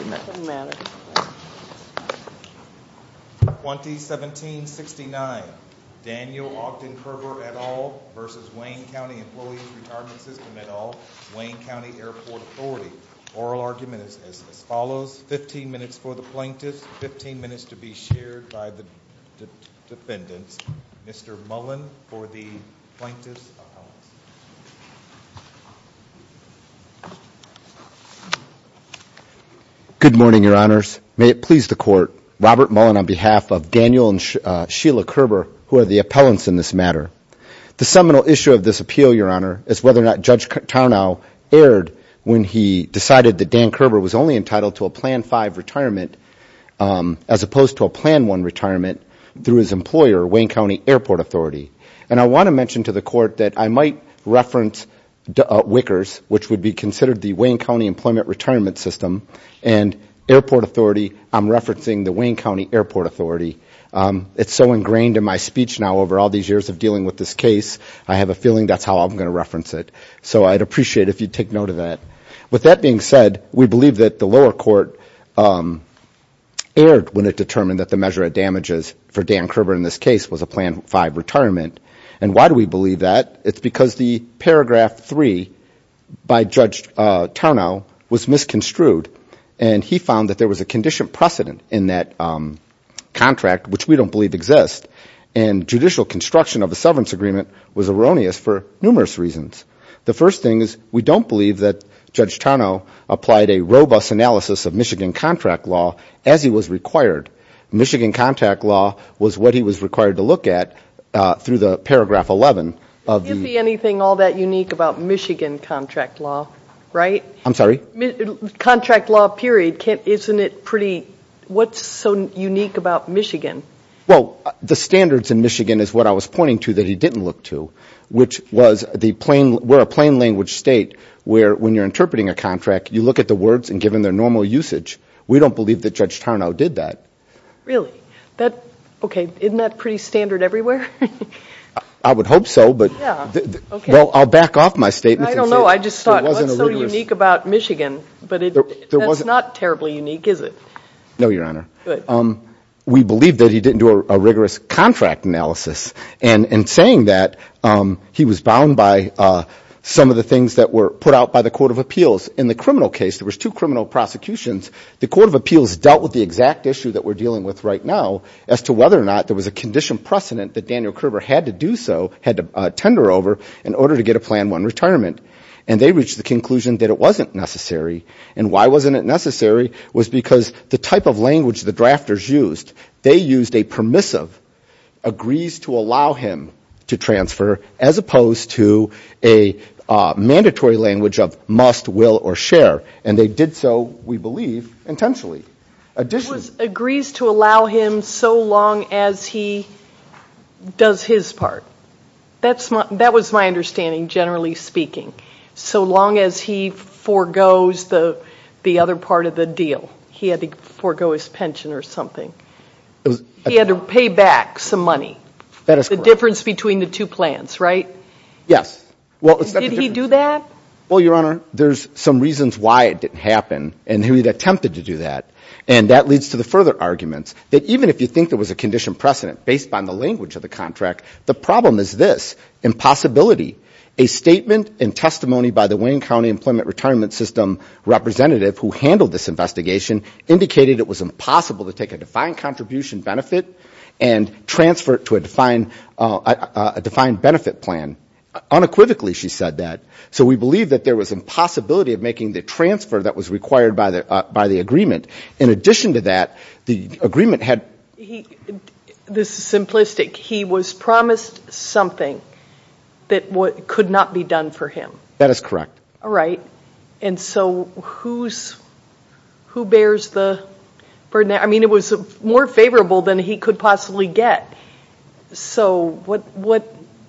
2017-69 Daniel Ogden Kerber, et al. v. Wayne County Employees Retirement System, et al. Wayne County Airport Authority Oral argument is as follows, 15 minutes for the plaintiffs, Good morning, your honors. May it please the court, Robert Mullen on behalf of Daniel and Sheila Kerber, who are the appellants in this matter. The seminal issue of this appeal, your honor, is whether or not Judge Tarnow erred when he decided that Dan Kerber was only entitled to a Plan 5 retirement, as opposed to a Plan 1 retirement through his employer, Wayne County Airport Authority. And I want to mention to the court that I might reference Wickers, which would be considered the Wayne County Employment Retirement System. And Airport Authority, I'm referencing the Wayne County Airport Authority. It's so ingrained in my speech now over all these years of dealing with this case. I have a feeling that's how I'm going to reference it. So I'd appreciate if you'd take note of that. With that being said, we believe that the lower court erred when it determined that the measure of damages for Dan Kerber in this case was a Plan 5 retirement. And why do we believe that? It's because the paragraph 3 by Judge Tarnow was misconstrued. And he found that there was a condition precedent in that contract, which we don't believe exists. And judicial construction of a severance agreement was erroneous for numerous reasons. The first thing is we don't believe that Judge Tarnow applied a robust analysis of Michigan contract law as he was required. Michigan contract law was what he was required to look at through the paragraph 11 of the- Isn't anything all that unique about Michigan contract law, right? I'm sorry? Contract law, period. Isn't it pretty- what's so unique about Michigan? Well, the standards in Michigan is what I was pointing to that he didn't look to, which was we're a plain language state where when you're interpreting a contract, you look at the words and give them their normal usage. We don't believe that Judge Tarnow did that. Really? Okay, isn't that pretty standard everywhere? I would hope so, but I'll back off my statement. I don't know. I just thought, what's so unique about Michigan? But that's not terribly unique, is it? No, Your Honor. We believe that he didn't do a rigorous contract analysis. And in saying that, he was bound by some of the things that were put out by the Court of Appeals. In the criminal case, there was two criminal prosecutions. The Court of Appeals dealt with the exact issue that we're dealing with right now as to whether or not there was a condition precedent that Daniel Kerber had to do so, had to tender over, in order to get a Plan 1 retirement. And they reached the conclusion that it wasn't necessary. And why wasn't it necessary was because the type of language the drafters used, they used a permissive, agrees to allow him to transfer, as opposed to a mandatory language of must, will, or share. And they did so, we believe, intentionally. Agrees to allow him so long as he does his part. That was my understanding, generally speaking. So long as he forgoes the other part of the deal. He had to forego his pension or something. He had to pay back some money. The difference between the two plans, right? Yes. Did he do that? Well, Your Honor, there's some reasons why it didn't happen. And he attempted to do that. And that leads to the further arguments that even if you think there was a condition precedent based on the language of the contract, the problem is this, impossibility. A statement and testimony by the Wayne County Employment Retirement System representative who handled this investigation indicated it was impossible to take a defined contribution benefit and transfer it to a defined benefit plan. Unequivocally, she said that. So we believe that there was impossibility of making the transfer that was required by the agreement. In addition to that, the agreement had- This is simplistic. He was promised something that could not be done for him. That is correct. All right. And so who bears the burden? I mean, it was more favorable than he could possibly get. So what-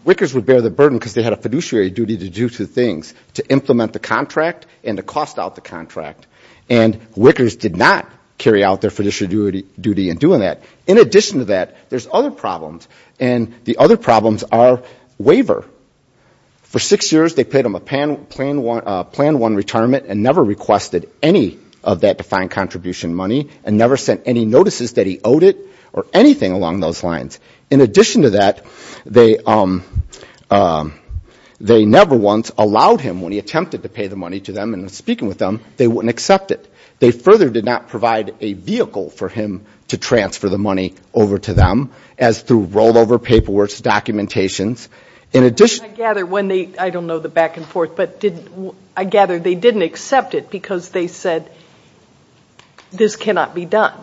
Wickers would bear the burden because they had a fiduciary duty to do two things, to implement the contract and to cost out the contract. And Wickers did not carry out their fiduciary duty in doing that. In addition to that, there's other problems. And the other problems are waiver. For six years, they paid him a plan one retirement and never requested any of that defined contribution money and never sent any notices that he owed it or anything along those lines. In addition to that, they never once allowed him, when he attempted to pay the money to them and was speaking with them, they wouldn't accept it. They further did not provide a vehicle for him to transfer the money over to them as through rollover, paperwork, documentations. In addition- I gather when they- I don't know the back and forth, but I gather they didn't accept it because they said this cannot be done.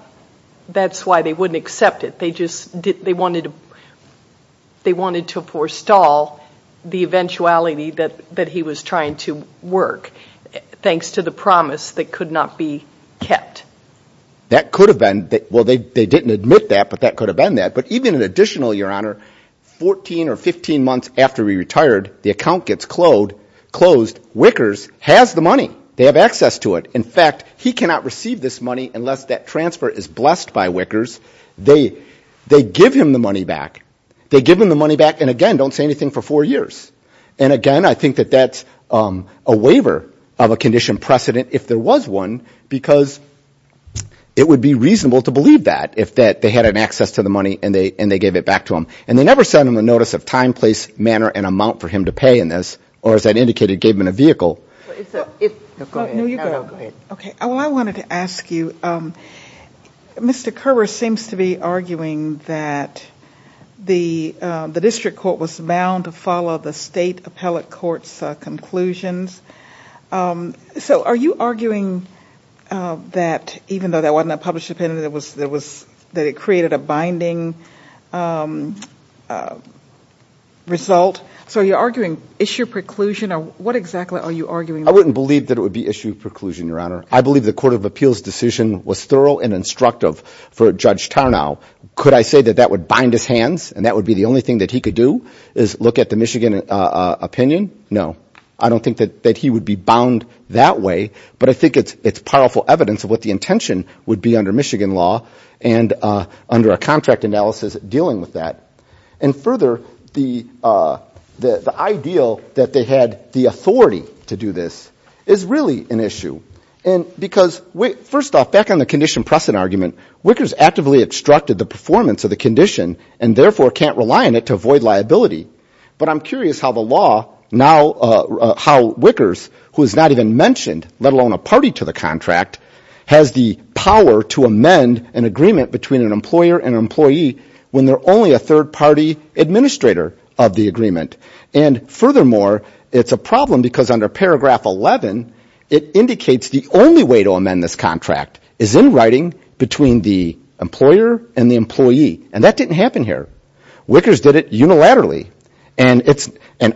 That's why they wouldn't accept it. They wanted to forestall the eventuality that he was trying to work, thanks to the promise that could not be kept. That could have been- well, they didn't admit that, but that could have been that. But even in additional, Your Honor, 14 or 15 months after he retired, the account gets closed. Wickers has the money. They have access to it. In fact, he cannot receive this money unless that transfer is blessed by Wickers. They give him the money back. They give him the money back and, again, don't say anything for four years. And again, I think that that's a waiver of a condition precedent if there was one, because it would be reasonable to believe that if they had an access to the money and they gave it back to him. And they never sent him a notice of time, place, manner, and amount for him to pay in this, or as I indicated, gave him a vehicle. Go ahead. No, you go. Okay, well, I wanted to ask you, Mr. Kerber seems to be arguing that the district court was bound to follow the state appellate court's conclusions. So are you arguing that even though that wasn't a published opinion, that it created a binding result? So you're arguing issue preclusion, or what exactly are you arguing? I wouldn't believe that it would be issue preclusion, Your Honor. I believe the court of appeals decision was thorough and instructive for Judge Tarnow. Could I say that that would bind his hands and that would be the only thing that he could do, is look at the Michigan opinion? No, I don't think that he would be bound that way. But I think it's powerful evidence of what the intention would be under Michigan law and under a contract analysis dealing with that. And further, the ideal that they had the authority to do this is really an issue. And because, first off, back on the condition precedent argument, Wickers actively obstructed the performance of the condition and therefore can't rely on it to avoid liability. But I'm curious how the law now, how Wickers, who is not even mentioned, let alone a party to the contract, has the power to amend an agreement between an employer and an employee when they're only a third party administrator of the agreement. And furthermore, it's a problem because under paragraph 11, it indicates the only way to amend this contract is in writing between the employer and the employee. And that didn't happen here. Wickers did it unilaterally. And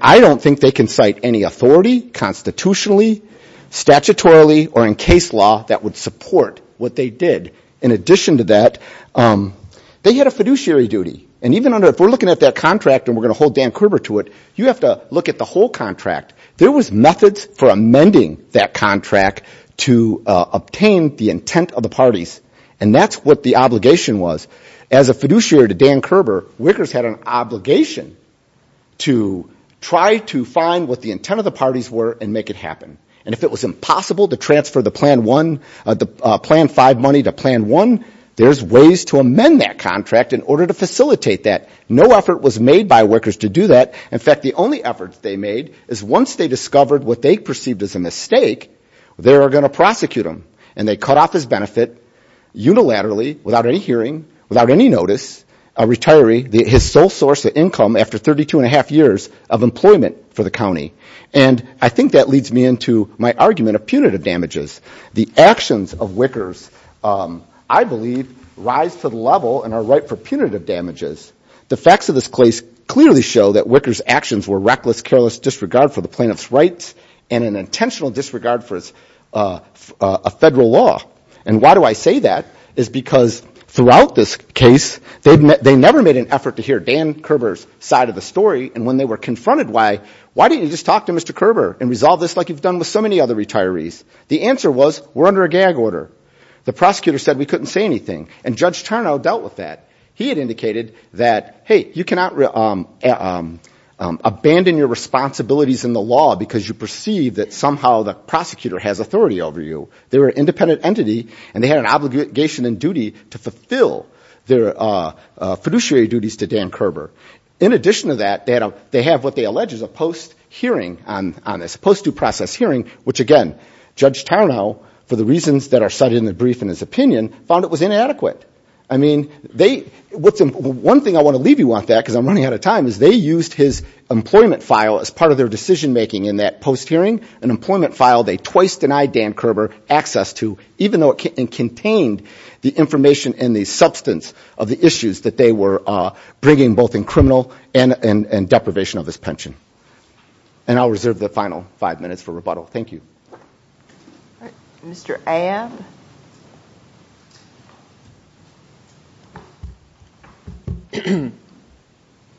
I don't think they can cite any authority, constitutionally, statutorily, or in case law that would support what they did. In addition to that, they had a fiduciary duty. And even under, if we're looking at that contract and we're going to hold Dan Kerber to it, you have to look at the whole contract. There was methods for amending that contract to obtain the intent of the parties. And that's what the obligation was. As a fiduciary to Dan Kerber, Wickers had an obligation to try to find what the intent of the parties were and make it happen. And if it was impossible to transfer the plan one, the plan five money to plan one, there's ways to amend that contract in order to facilitate that. No effort was made by Wickers to do that. In fact, the only effort they made is once they discovered what they perceived as a mistake, they were going to prosecute him. And they cut off his benefit unilaterally, without any hearing, without any notice, a retiree, his sole source of income after 32 and a half years of employment for the county. And I think that leads me into my argument of punitive damages. The actions of Wickers, I believe, rise to the level and are ripe for punitive damages. The facts of this case clearly show that Wickers' actions were reckless, careless disregard for the plaintiff's rights, and an intentional disregard for a federal law. And why do I say that? Is because throughout this case, they never made an effort to hear Dan Kerber's side of the story. And when they were confronted why, why didn't you just talk to Mr. Kerber and resolve this like you've done with so many other retirees? The answer was, we're under a gag order. The prosecutor said we couldn't say anything. And Judge Tarnow dealt with that. He had indicated that, hey, you cannot abandon your responsibilities in the law because you perceive that somehow the prosecutor has authority over you. They were an independent entity, and they had an obligation and duty to fulfill their fiduciary duties to Dan Kerber. In addition to that, they have what they allege is a post hearing on this, post due process hearing, which again, Judge Tarnow, for the reasons that are cited in the brief in his opinion, found it was inadequate. I mean, one thing I want to leave you on that, because I'm running out of time, is they used his employment file as part of their decision making in that post hearing. An employment file they twice denied Dan Kerber access to, even though it contained the information and the substance of the issues that they were bringing both in criminal and deprivation of his pension. And I'll reserve the final five minutes for rebuttal. Thank you. All right, Mr. Abb.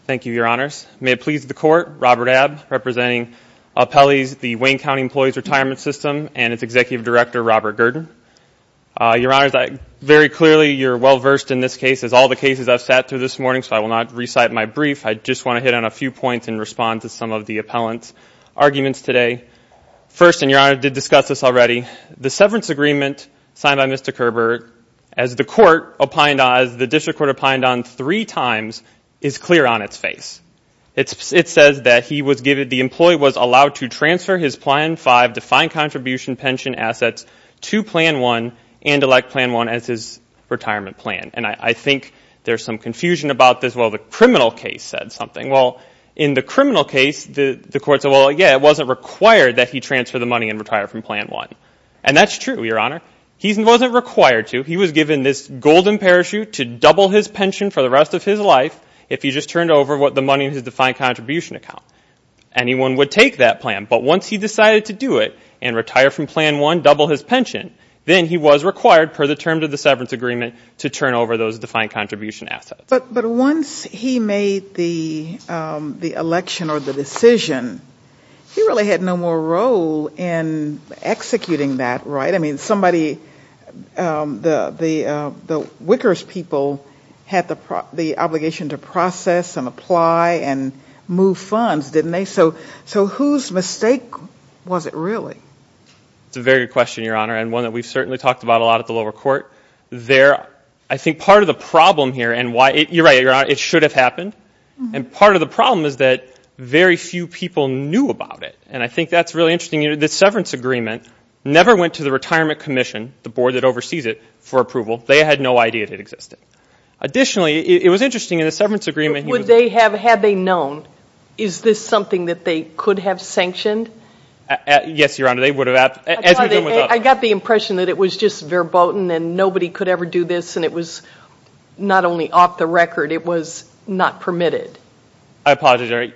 Thank you, Your Honors. May it please the court, Robert Abb, representing Appellees, the Wayne County Employees Retirement System, and its Executive Director, Robert Gurdon. Your Honors, very clearly, you're well versed in this case, as all the cases I've sat through this morning. So I will not recite my brief. I just want to hit on a few points in response to some of the appellant's arguments today. First, and Your Honor did discuss this already, the severance agreement signed by Mr. Kerber, as the court opined on, as the district court opined on three times, is clear on its face. It says that he was given, the employee was allowed to transfer his plan five, defined contribution pension assets to plan one and elect plan one as his retirement plan. And I think there's some confusion about this. Well, the criminal case said something. Well, in the criminal case, the court said, well, yeah, it wasn't required that he transfer the money and retire from plan one. And that's true, Your Honor. He wasn't required to. He was given this golden parachute to double his pension for the rest of his life, if he just turned over the money in his defined contribution account. Anyone would take that plan. But once he decided to do it and retire from plan one, double his pension, then he was required, per the terms of the severance agreement, to turn over those defined contribution assets. But once he made the election or the decision, he really had no more role in executing that, right? I mean, somebody, the Wickers people had the obligation to process and apply and move funds, didn't they? So whose mistake was it really? It's a very good question, Your Honor. And one that we've certainly talked about a lot at the lower court. I think part of the problem here, and you're right, Your Honor, it should have happened. And part of the problem is that very few people knew about it. And I think that's really interesting. The severance agreement never went to the Retirement Commission, the board that oversees it, for approval. They had no idea that it existed. Additionally, it was interesting in the severance agreement. Would they have? Had they known? Is this something that they could have sanctioned? Yes, Your Honor. They would have. I got the impression that it was just verboten and nobody could ever do this. And it was not only off the record, it was not permitted. I apologize, Your Honor.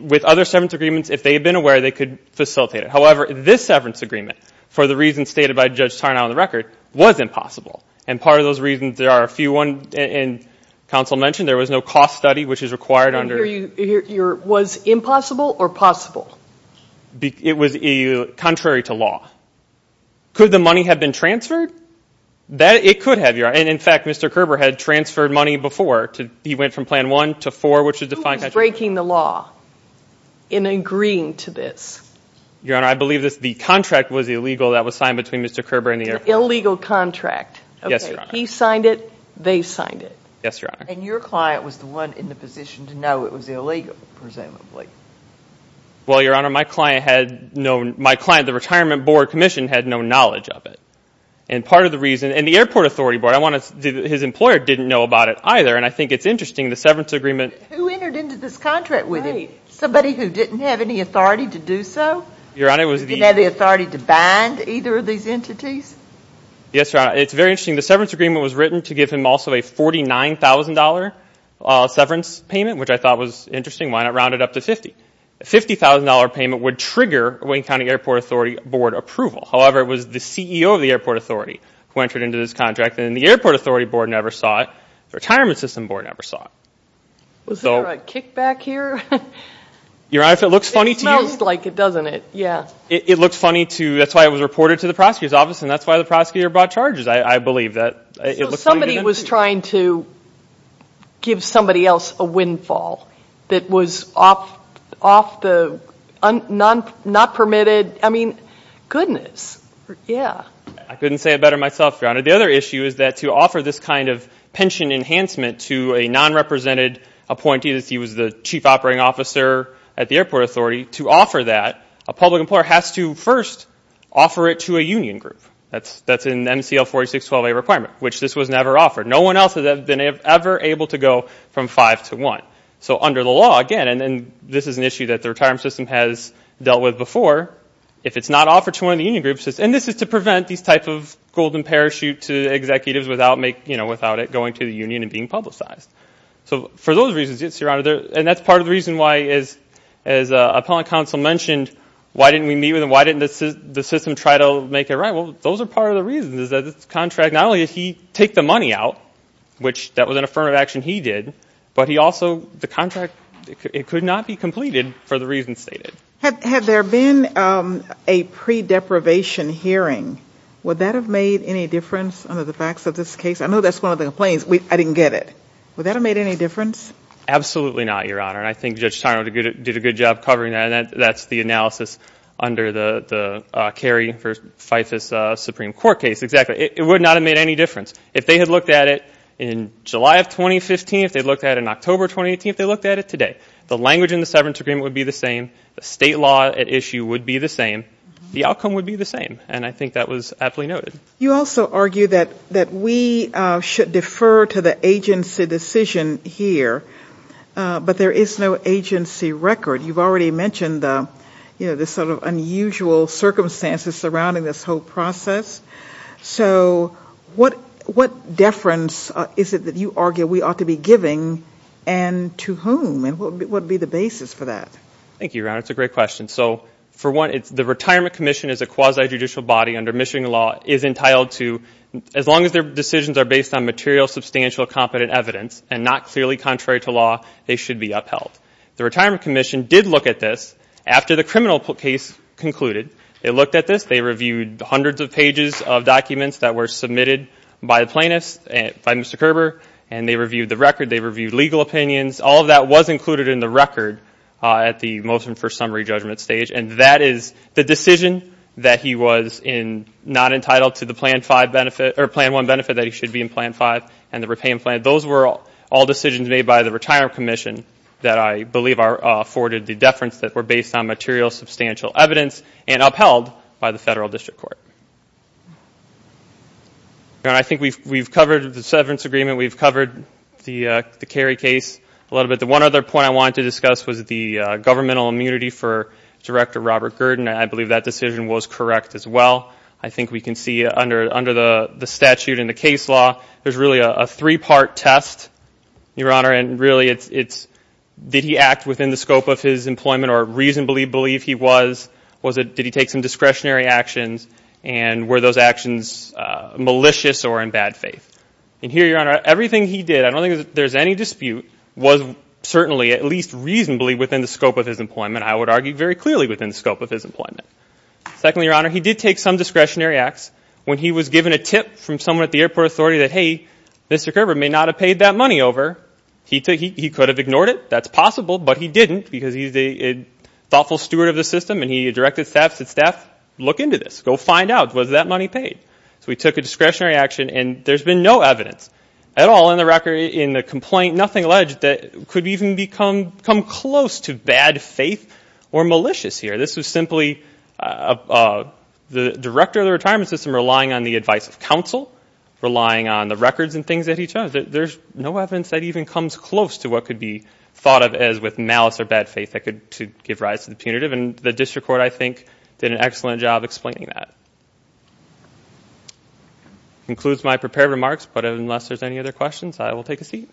With other severance agreements, if they had been aware, they could facilitate it. However, this severance agreement, for the reasons stated by Judge Tarnow on the record, was impossible. And part of those reasons, there are a few ones, and counsel mentioned, there was no cost study, which is required under- Was impossible or possible? It was contrary to law. Could the money have been transferred? It could have, Your Honor. And in fact, Mr. Kerber had transferred money before. He went from Plan 1 to 4, which is defined as- Who was breaking the law in agreeing to this? Your Honor, I believe the contract was illegal that was signed between Mr. Kerber and the- Illegal contract. Yes, Your Honor. He signed it. They signed it. Yes, Your Honor. And your client was the one in the position to know it was illegal, presumably. Well, Your Honor, my client had no- My client, the Retirement Board Commission, had no knowledge of it. And part of the reason- And the Airport Authority Board, I want to- His employer didn't know about it either. And I think it's interesting, the severance agreement- Who entered into this contract with him? Somebody who didn't have any authority to do so? Your Honor, it was the- Who didn't have the authority to bind either of these entities? Yes, Your Honor. It's very interesting. The severance agreement was written to give him also a $49,000 severance payment, which I thought was interesting. Why not round it up to $50,000? A $50,000 payment would trigger Wayne County Airport Authority Board approval. However, it was the CEO of the Airport Authority who entered into this contract, and the Airport Authority Board never saw it. The Retirement System Board never saw it. Was there a kickback here? Your Honor, if it looks funny to you- It smells like it, doesn't it? Yeah. It looks funny to- That's why it was reported to the prosecutor's office, and that's why the prosecutor brought charges. I believe that it looks funny to me. Somebody was trying to give somebody else a windfall that was not permitted. I mean, goodness. Yeah. I couldn't say it better myself, Your Honor. The other issue is that to offer this kind of pension enhancement to a non-represented appointee that he was the chief operating officer at the Airport Authority, to offer that, a public employer has to first offer it to a union group. That's an MCL 4612A requirement, which this was never offered. No one else has ever been able to go from five to one. So under the law, again, and this is an issue that the retirement system has dealt with before. If it's not offered to one of the union groups, and this is to prevent this type of golden parachute to executives without it going to the union and being publicized. So for those reasons, Your Honor, and that's part of the reason why, as Appellant Counsel mentioned, why didn't we meet with them? Why didn't the system try to make it right? Those are part of the reasons is that this contract, not only did he take the money out, which that was an affirmative action he did, but he also, the contract, it could not be completed for the reasons stated. Had there been a pre-deprivation hearing, would that have made any difference under the facts of this case? I know that's one of the complaints. I didn't get it. Would that have made any difference? Absolutely not, Your Honor. And I think Judge Tyrone did a good job covering that. That's the analysis under the Kerry v. FIFAS Supreme Court case. Exactly. It would not have made any difference. If they had looked at it in July of 2015, if they looked at it in October 2018, if they looked at it today, the language in the severance agreement would be the same. The state law at issue would be the same. The outcome would be the same. And I think that was aptly noted. You also argue that we should defer to the agency decision here, but there is no agency record. You've already mentioned the sort of unusual circumstances surrounding this whole process. So what deference is it that you argue we ought to be giving and to whom? And what would be the basis for that? Thank you, Your Honor. It's a great question. So for one, the Retirement Commission is a quasi-judicial body under Michigan law is entitled to, as long as their decisions are based on material, substantial, competent evidence and not clearly contrary to law, they should be upheld. The Retirement Commission did look at this after the criminal case concluded. They looked at this. They reviewed hundreds of pages of documents that were submitted by the plaintiffs, by Mr. Kerber, and they reviewed the record. They reviewed legal opinions. All of that was included in the record at the motion for summary judgment stage, and that is the decision that he was not entitled to the Plan 1 benefit that he should be in Plan 5 and the repayment plan. Those were all decisions made by the Retirement Commission that I believe afforded the deference that were based on material, substantial evidence and upheld by the Federal District Court. I think we've covered the severance agreement. We've covered the Kerry case a little bit. The one other point I wanted to discuss was the governmental immunity for Director Robert Gurdon, and I believe that decision was correct as well. I think we can see under the statute and the case law, there's really a three-part test, Your Honor, and really it's did he act within the scope of his employment or reasonably believe he was? Was it did he take some discretionary actions, and were those actions malicious or in bad faith? And here, Your Honor, everything he did, I don't think there's any dispute, was certainly at least reasonably within the scope of his employment. I would argue very clearly within the scope of his employment. Secondly, Your Honor, he did take some discretionary acts. When he was given a tip from someone at the airport authority that, hey, Mr. Kerber may not have paid that money over, he could have ignored it. That's possible, but he didn't because he's a thoughtful steward of the system, and he directed staff to look into this, go find out, was that money paid? So he took a discretionary action, and there's been no evidence at all in the record, in the complaint, nothing alleged that could even come close to bad faith or malicious here. This was simply the director of the retirement system relying on the advice of counsel, relying on the records and things that he chose. There's no evidence that even comes close to what could be thought of as with malice or bad faith that could give rise to the punitive, and the district court, I think, did an excellent job explaining that. Includes my prepared remarks, but unless there's any other questions, I will take a seat.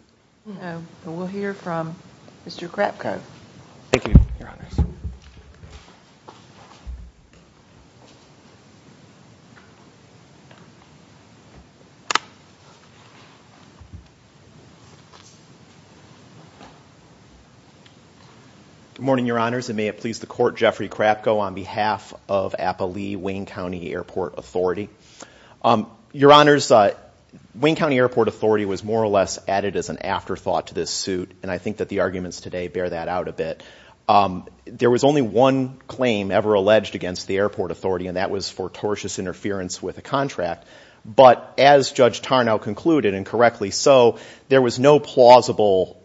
We'll hear from Mr. Krapko. Thank you, Your Honors. Good morning, Your Honors, and may it please the court, Jeffrey Krapko on behalf of Appalee-Wayne County Airport Authority. Your Honors, Wayne County Airport Authority was more or less added as an afterthought to this suit, and I think that the arguments today bear that out a bit. There was only one claim ever alleged against the airport authority, and that was for tortious interference with a contract, but as Judge Tarnow concluded, and correctly so, there was no plausible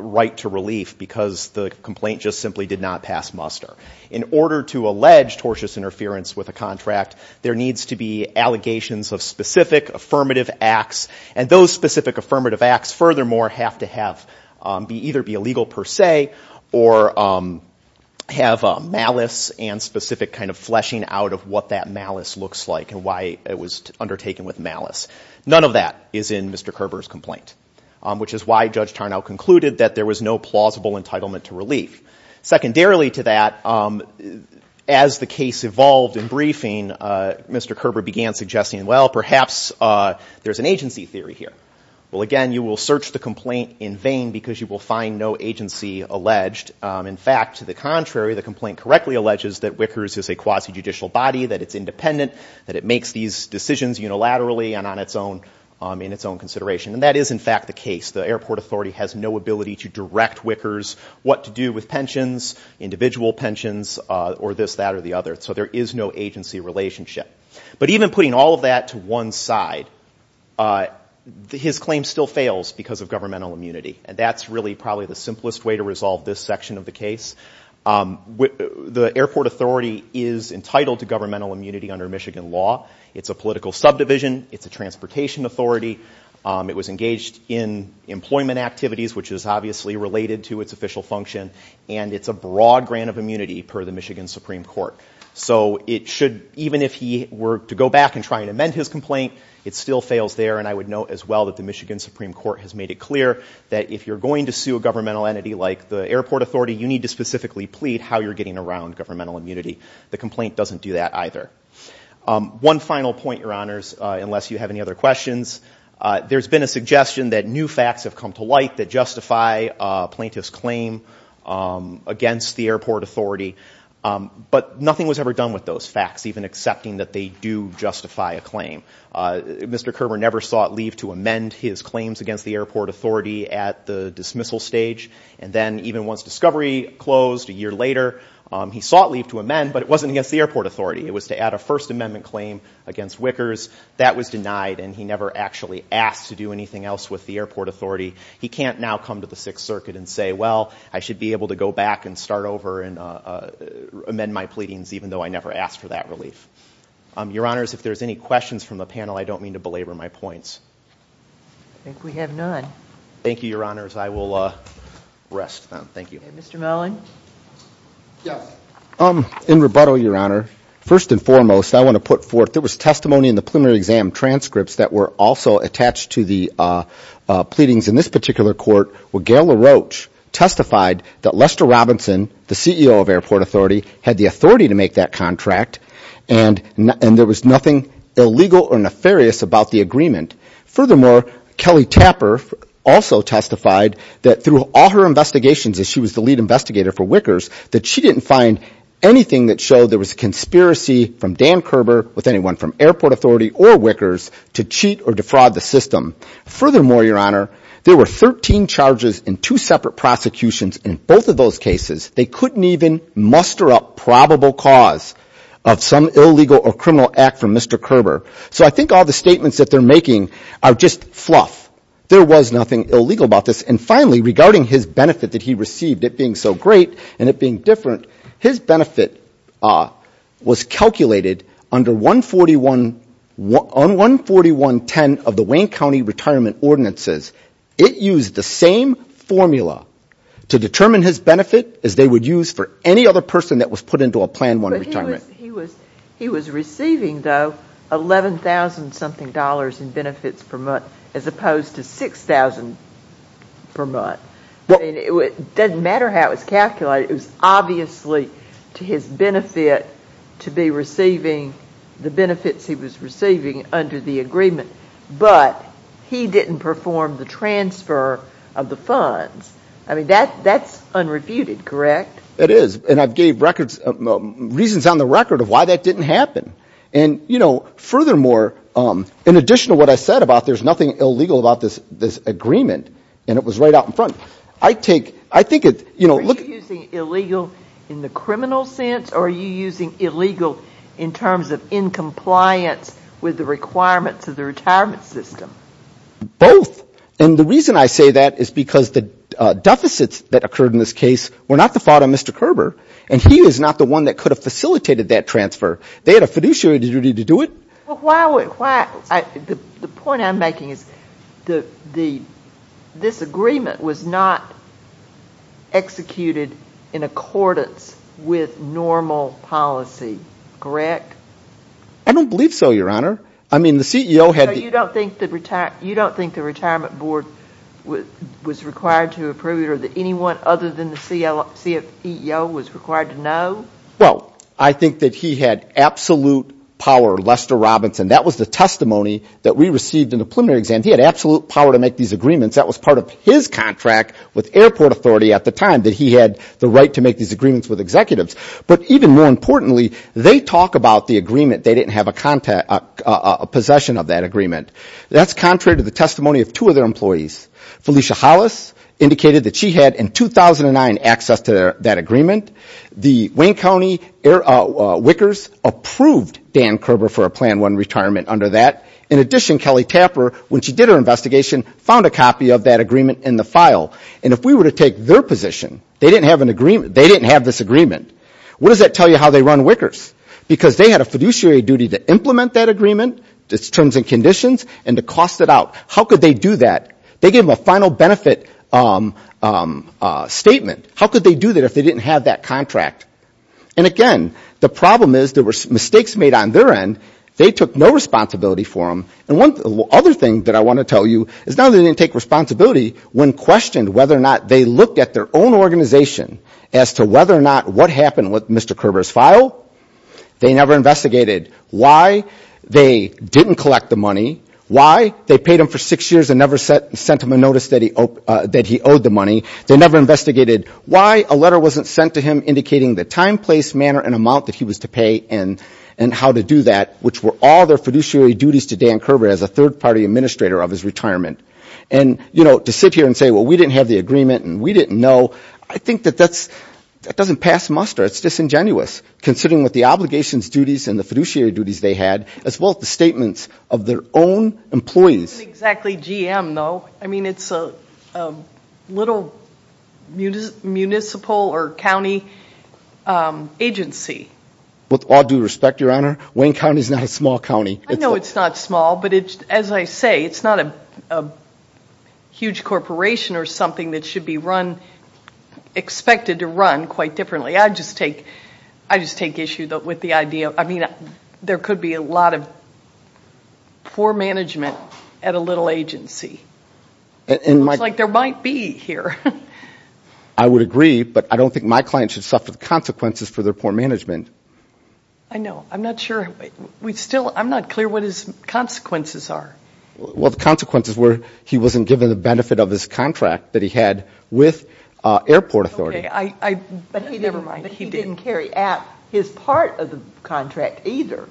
right to relief because the complaint just simply did not pass muster. In order to allege tortious interference with a contract, there needs to be allegations of specific affirmative acts, and those specific affirmative acts, furthermore, have to either be illegal per se, or have malice and specific kind of fleshing out of what that malice looks like, and why it was undertaken with malice. None of that is in Mr. Kerber's complaint, which is why Judge Tarnow concluded that there was no plausible entitlement to relief. Secondarily to that, as the case evolved in briefing, Mr. Kerber began suggesting, well, perhaps there's an agency theory here. Well, again, you will search the complaint in vain because you will find no agency alleged. In fact, to the contrary, the complaint correctly alleges that Wickers is a quasi-judicial body, that it's independent, that it makes these decisions unilaterally and in its own consideration, and that is, in fact, the case. The airport authority has no ability to direct Wickers what to do with pensions, individual pensions, or this, that, or the other. So there is no agency relationship. But even putting all of that to one side, his claim still fails because of governmental immunity, and that's really probably the simplest way to resolve this section of the case. The airport authority is entitled to governmental immunity under Michigan law. It's a political subdivision. It's a transportation authority. It was engaged in employment activities, which is obviously related to its official function, and it's a broad grant of immunity per the Michigan Supreme Court. So it should, even if he were to go back and try and amend his complaint, it still fails there, and I would note as well that the Michigan Supreme Court has made it clear that if you're going to sue a governmental entity like the airport authority, you need to specifically plead how you're getting around governmental immunity. The complaint doesn't do that either. One final point, Your Honors, unless you have any other questions. There's been a suggestion that new facts have come to light that justify plaintiff's claim against the airport authority, but nothing was ever done with those facts, even accepting that they do justify a claim. Mr. Kerber never sought leave to amend his claims against the airport authority at the dismissal stage, and then even once discovery closed a year later, he sought leave to amend, but it wasn't against the airport authority. It was to add a First Amendment claim against Wickers. That was denied, and he never actually asked to do anything else with the airport authority. He can't now come to the Sixth Circuit and say, well, I should be able to go back and start over and amend my pleadings, even though I never asked for that relief. Your Honors, if there's any questions from the panel, I don't mean to belabor my points. I think we have none. Thank you, Your Honors. I will rest then. Thank you. Mr. Mellon? Yes. In rebuttal, Your Honor. First and foremost, I want to put forth, there was testimony in the preliminary exam transcripts that were also attached to the pleadings in this particular court where Gail LaRoche testified that Lester Robinson, the CEO of airport authority, had the authority to make that contract, and there was nothing illegal or nefarious about the agreement. Furthermore, Kelly Tapper also testified that through all her investigations, as she was the lead investigator for Wickers, that she didn't find anything that showed there was a conspiracy from Dan Kerber, with anyone from airport authority or Wickers, to cheat or defraud the system. Furthermore, Your Honor, there were 13 charges and two separate prosecutions in both of those cases. They couldn't even muster up probable cause of some illegal or criminal act from Mr. Kerber. So I think all the statements that they're making are just fluff. There was nothing illegal about this. And finally, regarding his benefit that he received, it being so great, and it being different, his benefit was calculated under 14110 of the Wayne County Retirement Ordinances. It used the same formula to determine his benefit as they would use for any other person that was put into a Plan 1 retirement. He was receiving, though, $11,000-something in benefits per month, as opposed to $6,000 per month. It doesn't matter how it was calculated. It was obviously to his benefit to be receiving the benefits he was receiving under the agreement, but he didn't perform the transfer of the funds. I mean, that's unrefuted, correct? It is. And I've gave reasons on the record of why that didn't happen. And furthermore, in addition to what I said about there's nothing illegal about this agreement, and it was right out in front, I take, I think it, you know, look... Are you using illegal in the criminal sense, or are you using illegal in terms of in compliance with the requirements of the retirement system? Both. And the reason I say that is because the deficits that occurred in this case were not the fault of Mr. Kerber, and he was not the one that could have facilitated that transfer. They had a fiduciary duty to do it. Well, the point I'm making is this agreement was not executed in accordance with normal policy, correct? I don't believe so, Your Honor. I mean, the CEO had... So you don't think the retirement board was required to approve it, or that anyone other than the CEO was required to know? Well, I think that he had absolute power, Lester Robinson. That was the testimony that we received in the preliminary exam. He had absolute power to make these agreements. That was part of his contract with airport authority at the time, that he had the right to make these agreements with executives. But even more importantly, they talk about the agreement. They didn't have a possession of that agreement. That's contrary to the testimony of two of their employees. Felicia Hollis indicated that she had, in 2009, access to that agreement. The Wayne County Wickers approved Dan Kerber for a Plan 1 retirement under that. In addition, Kelly Tapper, when she did her investigation, found a copy of that agreement in the file. And if we were to take their position, they didn't have this agreement. What does that tell you how they run Wickers? Because they had a fiduciary duty to implement that agreement, its terms and conditions, and to cost it out. How could they do that? They gave them a final benefit statement. How could they do that if they didn't have that contract? And again, the problem is there were mistakes made on their end. They took no responsibility for them. And one other thing that I want to tell you is now they didn't take responsibility when questioned whether or not they looked at their own organization as to whether or not what happened with Mr. Kerber's file. They never investigated why they didn't collect the money, why they paid him for six years and never sent him a notice that he owed the money. They never investigated why a letter wasn't sent to him indicating the time, place, manner, and amount that he was to pay and how to do that, which were all their fiduciary duties to Dan Kerber as a third-party administrator of his retirement. And to sit here and say, well, we didn't have the agreement and we didn't know, I think that that doesn't pass muster. It's disingenuous, considering what the obligations, duties, and the fiduciary duties they had, as well as the statements of their own employees. It isn't exactly GM, though. I mean, it's a little municipal or county agency. With all due respect, Your Honor, Wayne County is not a small county. I know it's not small, but as I say, it's not a huge corporation or something that should be run, expected to run, quite differently. I just take issue with the idea. There could be a lot of poor management at a little agency. It looks like there might be here. I would agree, but I don't think my client should suffer the consequences for their poor management. I know. I'm not sure. I'm not clear what his consequences are. Well, the consequences were he wasn't given the benefit of his contract that he had with airport authority. Okay. Never mind. He didn't carry out his part of the contract either.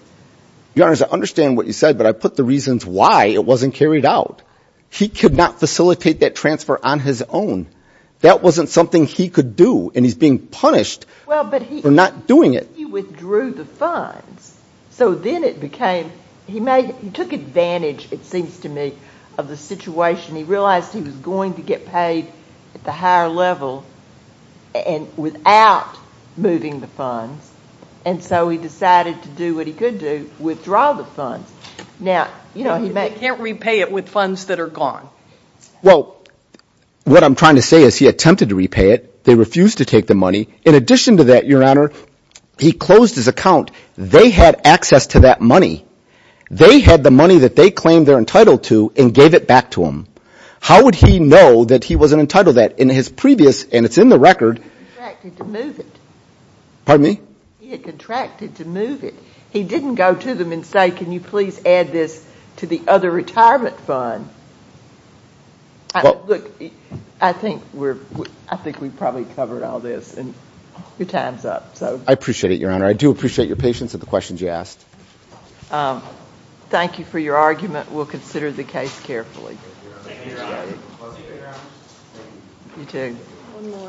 Your Honor, I understand what you said, but I put the reasons why it wasn't carried out. He could not facilitate that transfer on his own. That wasn't something he could do, and he's being punished for not doing it. He withdrew the funds, so then it became he took advantage, it seems to me, of the situation. He realized he was going to get paid at the higher level without moving the funds, and so he decided to do what he could do, withdraw the funds. Now, you know, he may... He can't repay it with funds that are gone. Well, what I'm trying to say is he attempted to repay it. They refused to take the money. In addition to that, Your Honor, he closed his account. They had access to that money. They had the money that they claimed they're entitled to and gave it back to him. How would he know that he wasn't entitled to that? In his previous, and it's in the record... He contracted to move it. Pardon me? He had contracted to move it. He didn't go to them and say, can you please add this to the other retirement fund? Look, I think we've probably covered all this, and your time's up. I appreciate it, Your Honor. I do appreciate your patience with the questions you asked. Thank you for your argument. We'll consider the case carefully. Thank you, Your Honor. You too. One more.